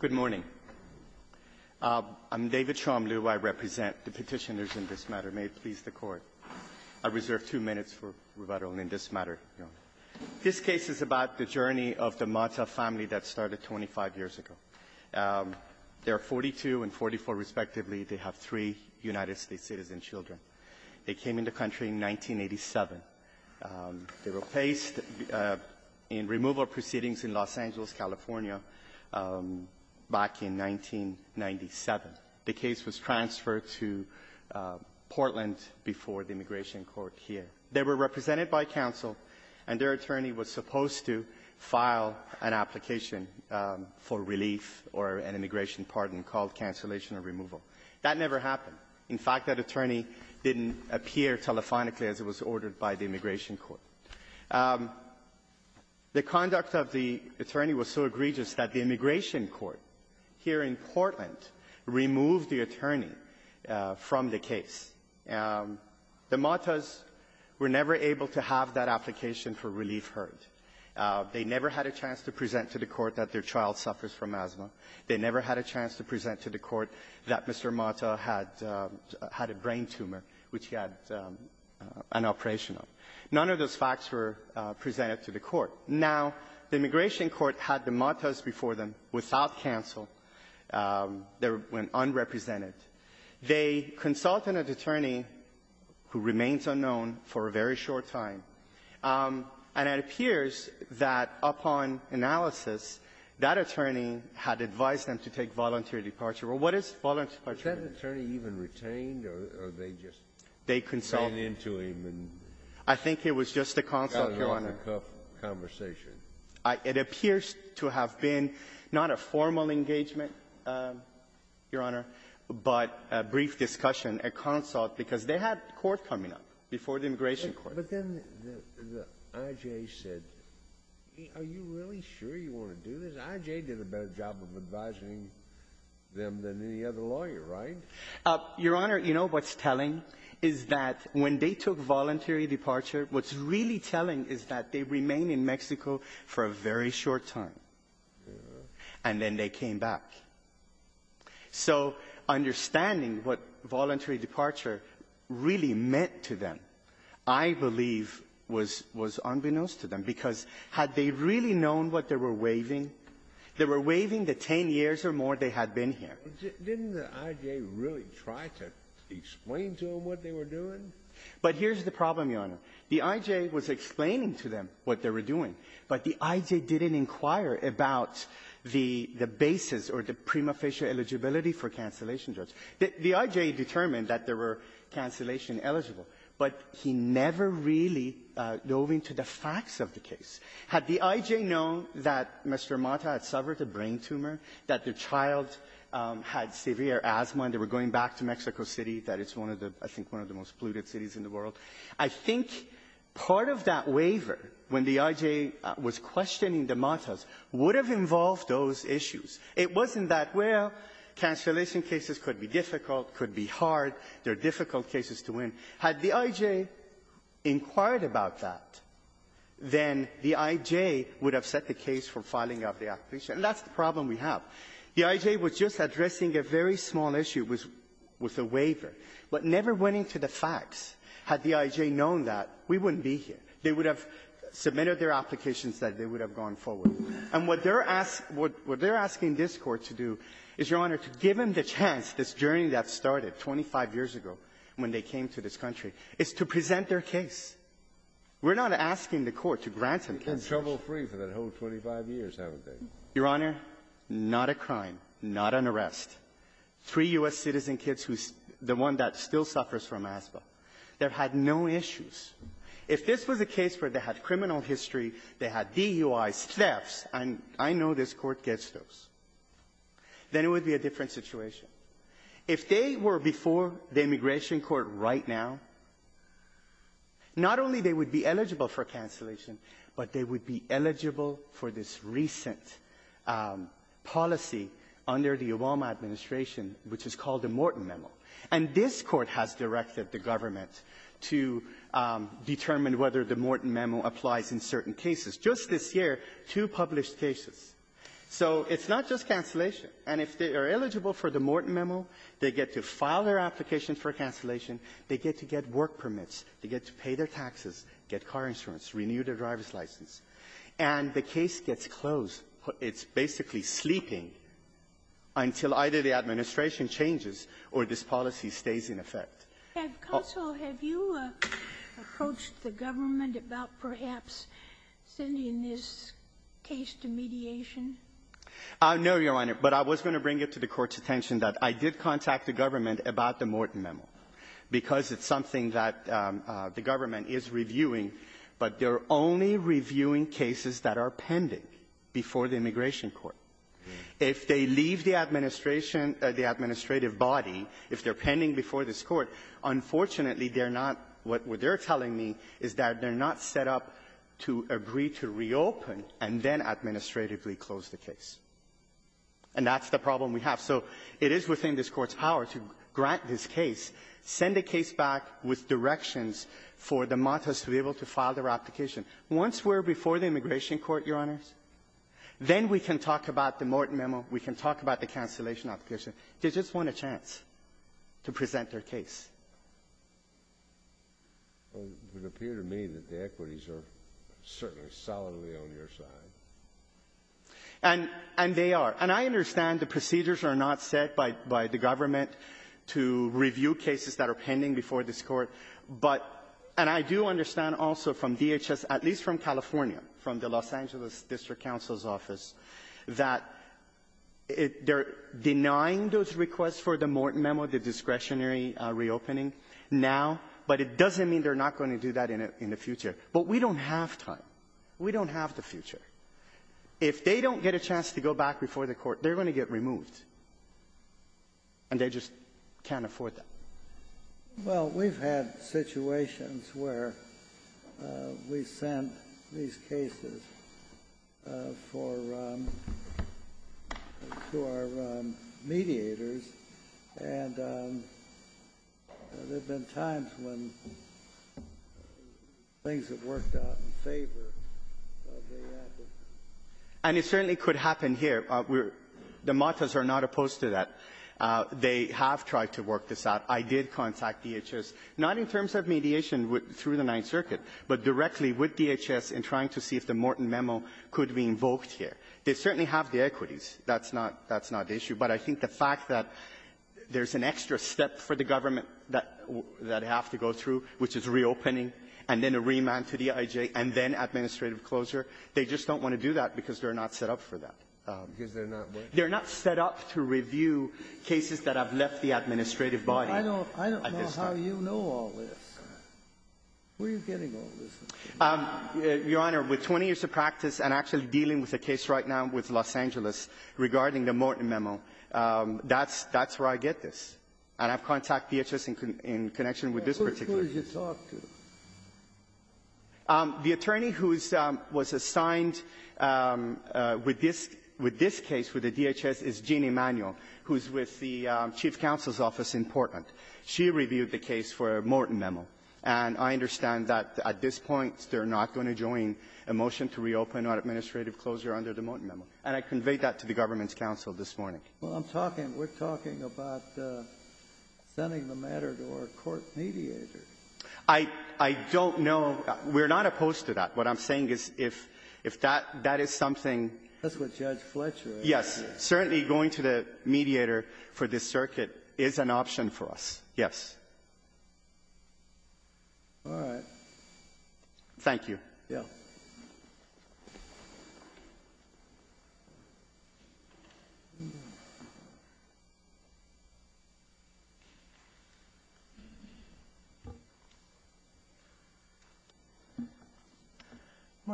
Good morning. I'm David Chomlu. I represent the petitioners in this matter. May it please the Court. I reserve two minutes for rebuttal in this matter, Your Honor. This case is about the journey of the Mata family that started 25 years ago. They are 42 and 44, respectively. They have three United States citizen children. They came into country in 1987. They were placed in removal proceedings in Los Angeles, California, back in 1997. The case was transferred to Portland before the Immigration Court here. They were represented by counsel, and their attorney was supposed to file an application for relief or an immigration pardon called cancellation of removal. That never happened. In fact, that attorney didn't appear telephonically as it was ordered by the Immigration Court. The conduct of the attorney was so egregious that the Immigration Court here in Portland removed the attorney from the case. The Matas were never able to have that application for relief heard. They never had a chance to present to the court that their child suffers from asthma. They never had a chance to present to the court that Mr. Mata had a brain tumor, which he had an operation on. None of those facts were presented to the court. Now, the Immigration Court had the Matas before them without counsel. They went unrepresented. They consulted an attorney who remains unknown for a very short time. And it appears that upon analysis, that attorney had advised them to take voluntary departure. Well, what is voluntary departure? Kennedy. Was that attorney even retained, or they just ran into him and got an off-the-cuff conversation? It appears to have been not a formal engagement, Your Honor, but a brief discussion, a consult, because they had court coming up before the Immigration Court. But then the I.J. said, are you really sure you want to do this? I.J. did a better job of advising them than any other lawyer, right? Your Honor, you know what's telling is that when they took voluntary departure, what's really telling is that they remained in Mexico for a very short time. And then they came back. So understanding what voluntary departure really meant to them, I believe, was unbeknownst to them, because had they really known what they were waiving, they were waiving the 10 years or more they had been here. Didn't the I.J. really try to explain to them what they were doing? But here's the problem, Your Honor. The I.J. was explaining to them what they were doing, but the I.J. didn't inquire about the basis or the prima facie eligibility for cancellation drugs. The I.J. determined that there were cancellation eligible, but he never really dove into the facts of the case. Had the I.J. known that Mr. Mata had suffered a brain tumor, that the child had severe asthma, and they were going back to Mexico City, that it's one of the, I think, one of the most polluted cities in the world, I think part of that waiver, when the I.J. was questioning the Matas, would have involved those issues. It wasn't that, well, cancellation cases could be difficult, could be hard, they're difficult cases to win. Had the I.J. inquired about that, then the I.J. would have set the case for filing out the application. And that's the problem we have. The I.J. was just addressing a very small issue with a waiver, but never went into the facts. Had the I.J. known that, we wouldn't be here. They would have submitted their applications that they would have gone forward. And what they're asking this Court to do is, Your Honor, to give them the chance, this journey that started 25 years ago when they came to this country, is to present their case. We're not asking the Court to grant them their case. They've been trouble-free for that whole 25 years, haven't they? Your Honor, not a crime, not an arrest. Three U.S. citizen kids, the one that still suffers from asthma, they've had no issues. If this was a case where they had criminal history, they had DUI, thefts, and I know this Court gets those, then it would be a different situation. If they were before the Immigration Court right now, not only would they be eligible for cancellation, but they would be eligible for this recent policy under the Obama administration, which is called the Morton Memo. And this Court has directed the government to determine whether the Morton Memo applies in certain cases. Just this year, two published cases. So it's not just cancellation. And if they are eligible for the Morton Memo, they get to file their taxes, get car insurance, renew their driver's license. And the case gets closed. It's basically sleeping until either the administration changes or this policy stays in effect. Sotomayor, have you approached the government about perhaps sending this case to mediation? No, Your Honor. But I was going to bring it to the Court's attention that I did contact the government about the Morton Memo, because it's something that the government is reviewing. But they're only reviewing cases that are pending before the Immigration Court. If they leave the administration or the administrative body, if they're pending before this Court, unfortunately, they're not what they're telling me is that they're not set up to agree to reopen and then administratively close the case. And that's the problem we have. So it is within this Court's power to grant this case, send a case back with directions for the Montas to be able to file their application. Once we're before the Immigration Court, Your Honors, then we can talk about the Morton Memo. We can talk about the cancellation application. They just want a chance to present their case. Well, it would appear to me that the equities are certainly solidly on your side. And they are. And I understand the procedures are not set by the government to review cases that are pending before this Court. But — and I do understand also from DHS, at least from California, from the Los Angeles District Counsel's Office, that they're denying those requests for the Morton Memo, the discretionary reopening now. But it doesn't mean they're not going to do that in the future. But we don't have time. We don't have the future. If they don't get a chance to go back before the Court, they're going to get removed. And they just can't afford that. Well, we've had situations where we sent these cases for — to our mediators. And there have been times when things have worked out in favor of the advocate. And it certainly could happen here. We're — the mottos are not opposed to that. They have tried to work this out. I did contact DHS, not in terms of mediation through the Ninth Circuit, but directly with DHS in trying to see if the Morton Memo could be invoked here. They certainly have the equities. That's not — that's not the issue. But I think the fact that there's an extra step for the government that — that have to go through, which is reopening, and then a remand to the I.G.A., and then administrative closure, they just don't want to do that because they're not set up for that. They're not set up to review cases that have left the administrative body. I don't — I don't know how you know all this. Where are you getting all this from? Your Honor, with 20 years of practice and actually dealing with a case right now with the DHS in Los Angeles regarding the Morton Memo, that's — that's where I get this. And I've contacted DHS in connection with this particular case. Who did you talk to? The attorney who was assigned with this — with this case with the DHS is Jean Emanuel, who's with the chief counsel's office in Portland. She reviewed the case for a Morton Memo. And I understand that at this point, they're not going to join a motion to reopen or administrative closure under the Morton Memo. And I conveyed that to the government's counsel this morning. Well, I'm talking — we're talking about sending the matter to our court mediator. I — I don't know. We're not opposed to that. What I'm saying is if — if that — that is something — That's what Judge Fletcher is saying. Yes. Certainly, going to the mediator for this circuit is an option for us, yes. All right. Thank you. Yeah. Good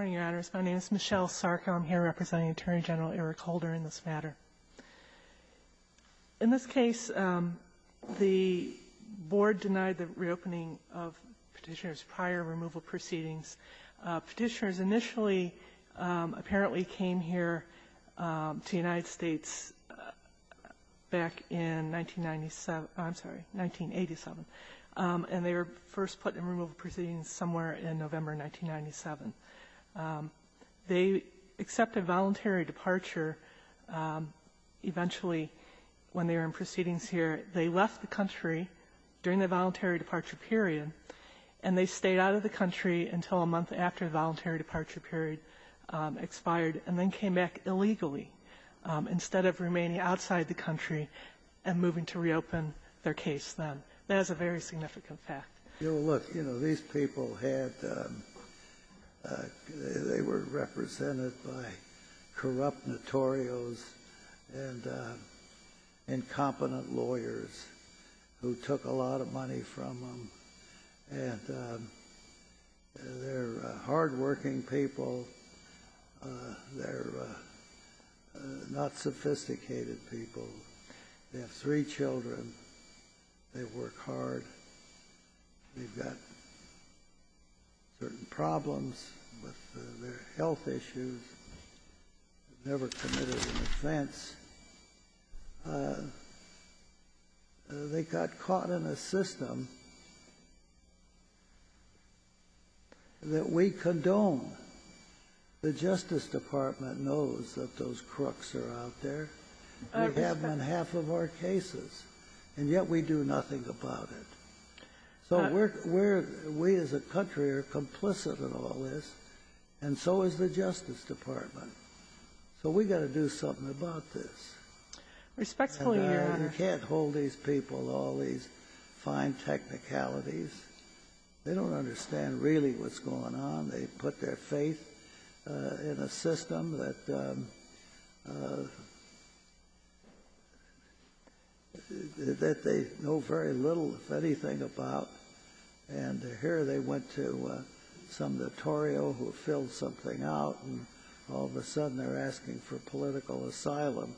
morning, Your Honors. My name is Michelle Sarko. I'm here representing Attorney General Eric Holder in this matter. In this case, the Board denied the reopening of Petitioner's prior removal proceedings. Petitioners initially apparently came here to the United States back in 1997 — I'm sorry, 1987. And they were first put in removal proceedings somewhere in November 1997. They accepted voluntary departure eventually when they were in proceedings here. They left the country during the voluntary departure period, and they stayed out of the country until a month after the voluntary departure period expired, and then came back illegally instead of remaining outside the country and moving to reopen their case then. That is a very significant fact. You know, look, you know, these people had — they were represented by corrupt notorios and incompetent lawyers who took a lot of money from them. And they're hardworking people. They're not sophisticated people. They have three children. They work hard. They've got certain problems with their health issues. They've never committed an offense. They got caught in a system that we condone. The Justice Department knows that those crooks are out there. We have them in half of our cases, and yet we do nothing about it. So we're — we as a country are complicit in all this, and so is the Justice Department. So we've got to do something about this. Respectfully, Your Honor — And you can't hold these people to all these fine technicalities. They don't understand really what's going on. They put their faith in a system that they know very little, if anything, about. And here they went to some notorio who filled something out, and all of a sudden, they're asking for political asylum.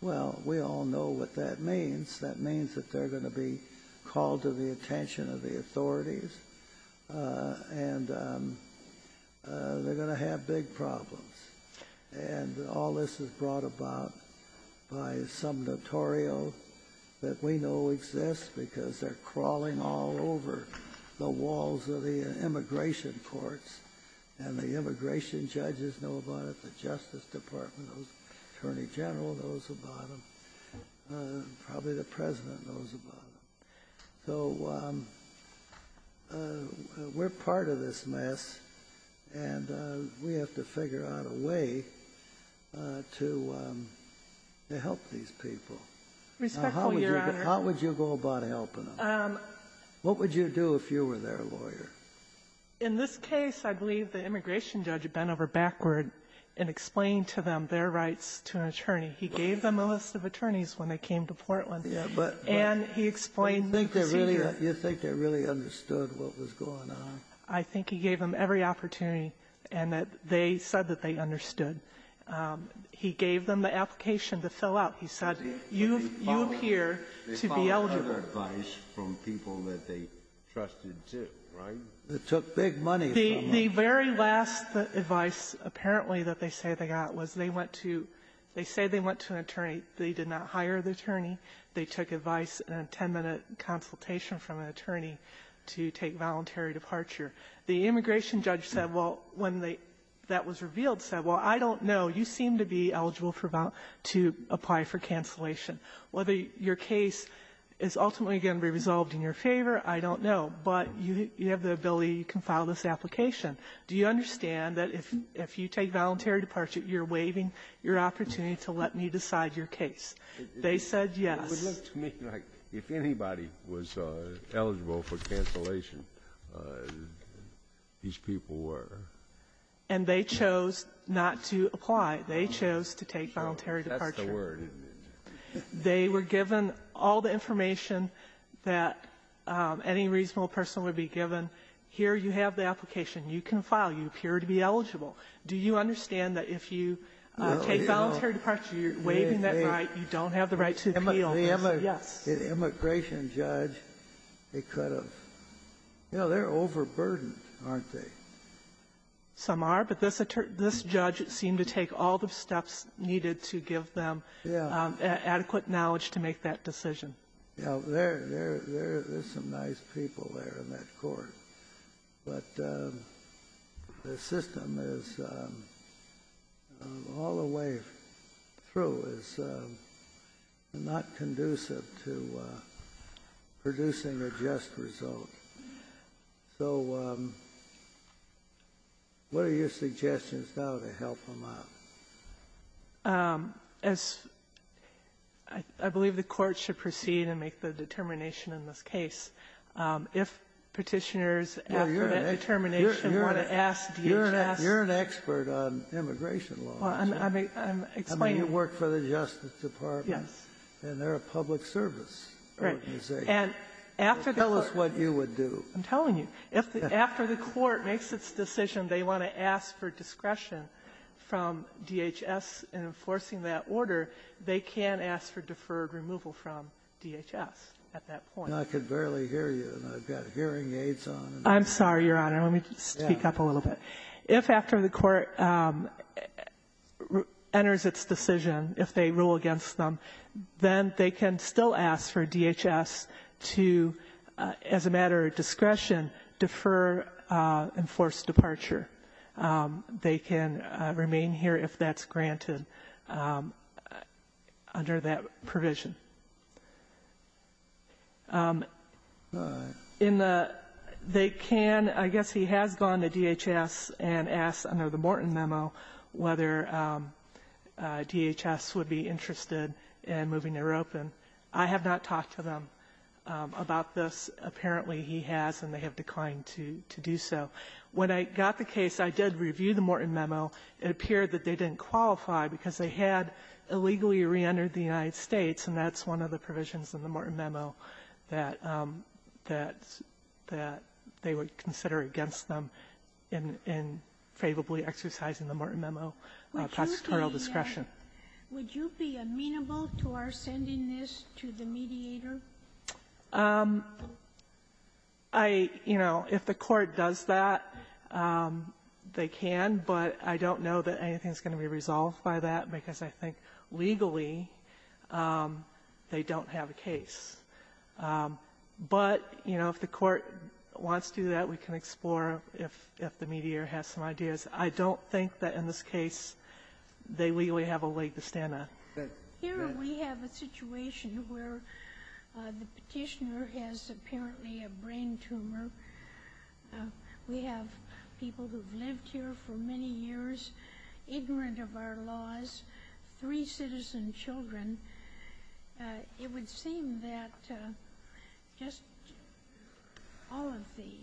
Well, we all know what that means. That means that they're going to be called to the attention of the authorities. And they're going to have big problems. And all this is brought about by some notorio that we know exists because they're crawling all over the walls of the immigration courts. And the immigration judges know about it, the Justice Department knows, the Attorney General knows about them, probably the President knows about them. So we're part of this mess, and we have to figure out a way to help these people. Respectfully, Your Honor — How would you go about helping them? What would you do if you were their lawyer? In this case, I believe the immigration judge bent over backward and explained to them their rights to an attorney. He gave them a list of attorneys when they came to Portland. Yeah, but — And he explained the procedure. You think they really understood what was going on? I think he gave them every opportunity, and that they said that they understood. He gave them the application to fill out. He said, you appear to be eligible. They followed other advice from people that they trusted, too, right? It took big money from them. The very last advice, apparently, that they say they got was they went to — they say they went to an attorney. They did not hire the attorney. They took advice and a 10-minute consultation from an attorney to take voluntary departure. The immigration judge said, well, when they — that was revealed, said, well, I don't know, you seem to be eligible for — to apply for cancellation. Whether your case is ultimately going to be resolved in your favor, I don't know. But you have the ability, you can file this application. Do you understand that if you take voluntary departure, you're waiving your opportunity to let me decide your case? They said yes. It would look to me like if anybody was eligible for cancellation, these people were. And they chose not to apply. They chose to take voluntary departure. That's the word. They were given all the information that any reasonable person would be given. Here you have the application. You can file. You appear to be eligible. Do you understand that if you take voluntary departure, you're waiving that right, you don't have the right to appeal? They said yes. The immigration judge, they could have — you know, they're overburdened, aren't they? Some are. But this judge seemed to take all the steps needed to give them adequate knowledge to make that decision. Yeah, there's some nice people there in that court. But the system is, all the way through, is not conducive to producing a just result. So what are your suggestions now to help them out? As I believe the Court should proceed and make the determination in this case, if Petitioners after that determination want to ask DHS — You're an expert on immigration law. I'm explaining — I mean, you work for the Justice Department. Yes. And they're a public service organization. Right. And after the Court — Tell us what you would do. I'm telling you. If after the Court makes its decision they want to ask for discretion from DHS in enforcing that order, they can ask for deferred removal from DHS at that point. I can barely hear you, and I've got hearing aids on. I'm sorry, Your Honor. Let me speak up a little bit. If after the Court enters its decision, if they rule against them, then they can still ask for DHS to, as a matter of discretion, defer enforced departure. They can remain here if that's granted under that provision. In the — they can — I guess he has gone to DHS and asked, under the Morton memo, whether DHS would be interested in moving their open. I have not talked to them about this. Apparently, he has, and they have declined to do so. When I got the case, I did review the Morton memo. It appeared that they didn't qualify because they had illegally reentered the United States, and that's one of the provisions in the Morton memo that — that they would consider against them in favorably exercising the Morton memo, prosecutorial discretion. Would you be amenable to our sending this to the mediator? I — you know, if the Court does that, they can, but I don't know that anything is going to be resolved by that, because I think, legally, they don't have a case. But, you know, if the Court wants to do that, we can explore if the mediator has some ideas. I don't think that, in this case, they legally have a way to stand up. Here, we have a situation where the petitioner has, apparently, a brain tumor. We have people who have lived here for many years, ignorant of our laws, three citizen children. It would seem that just all of the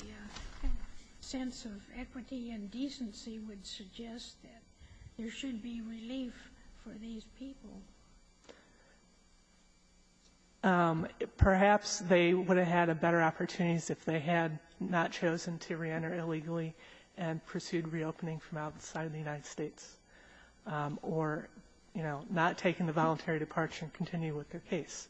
sense of equity and decency would suggest that there should be relief for these people. Perhaps they would have had better opportunities if they had not chosen to reenter illegally and pursued reopening from outside of the United States or, you know, not taken the voluntary departure and continue with their case.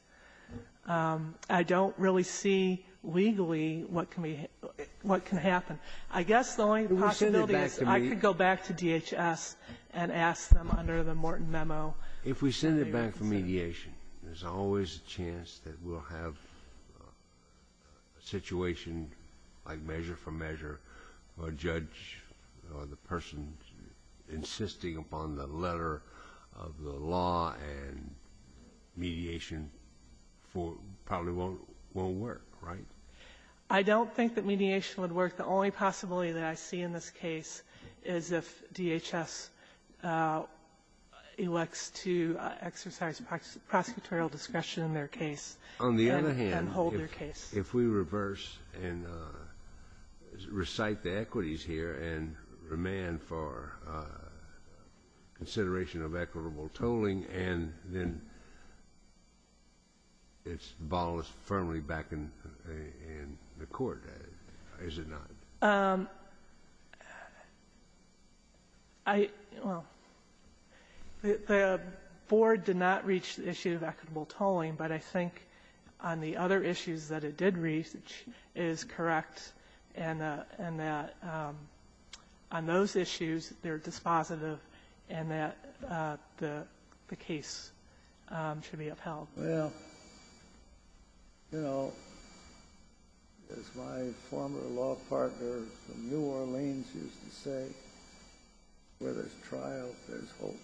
I don't really see, legally, what can be — what can happen. I guess the only possibility is I could go back to DHS and ask them under the Morton memo. If we send it back for mediation, there's always a chance that we'll have a situation like measure for measure where a judge or the person insisting upon the letter of the law and mediation probably won't work, right? I don't think that mediation would work. The only possibility that I see in this case is if DHS elects to exercise prosecutorial discretion in their case and hold their case. On the other hand, if we reverse and recite the equities here and remand for consideration of equitable tolling, and then it's — the ball is firmly back in the court, is it not? I — well, the board did not reach the issue of equitable tolling, but I think on the other issues that it did reach, it is correct in that on those issues, they're dispositive and that the case should be upheld. Well, you know, as my former law partner from New Orleans used to say, where there's trial, there's hope.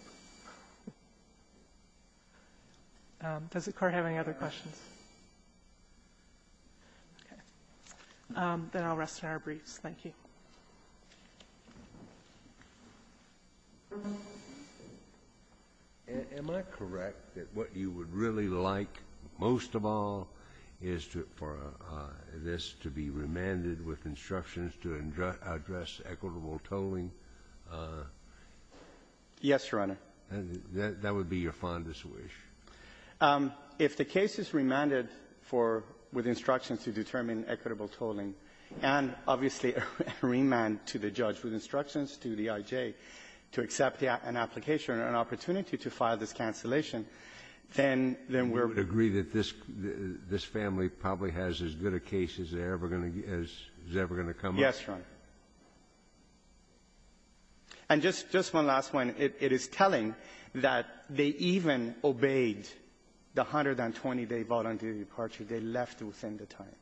Does the Court have any other questions? Okay. Then I'll rest in our briefs. Thank you. Am I correct that what you would really like most of all is to — for this to be remanded with instructions to address equitable tolling? Yes, Your Honor. That would be your fondest wish? If the case is remanded for — with instructions to determine equitable tolling, and obviously a remand to the judge with instructions to the I.J. to accept an application and an opportunity to file this cancellation, then we're — You would agree that this family probably has as good a case as they're ever going to — as is ever going to come up? Yes, Your Honor. And just one last one. It is telling that they even obeyed the 120-day voluntary departure. They left within the time.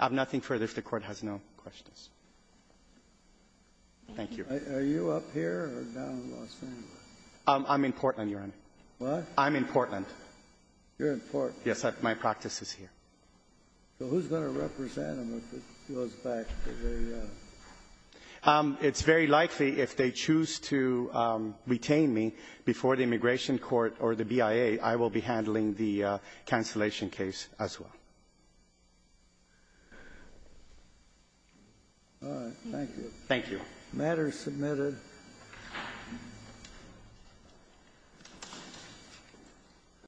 I have nothing further if the Court has no questions. Thank you. Are you up here or down in Los Angeles? I'm in Portland, Your Honor. What? I'm in Portland. You're in Portland? Yes. My practice is here. So who's going to represent them if it goes back to the — It's very likely if they choose to retain me before the Immigration Court or the BIA, I will be handling the cancellation case as well. All right. Thank you. The matter is submitted.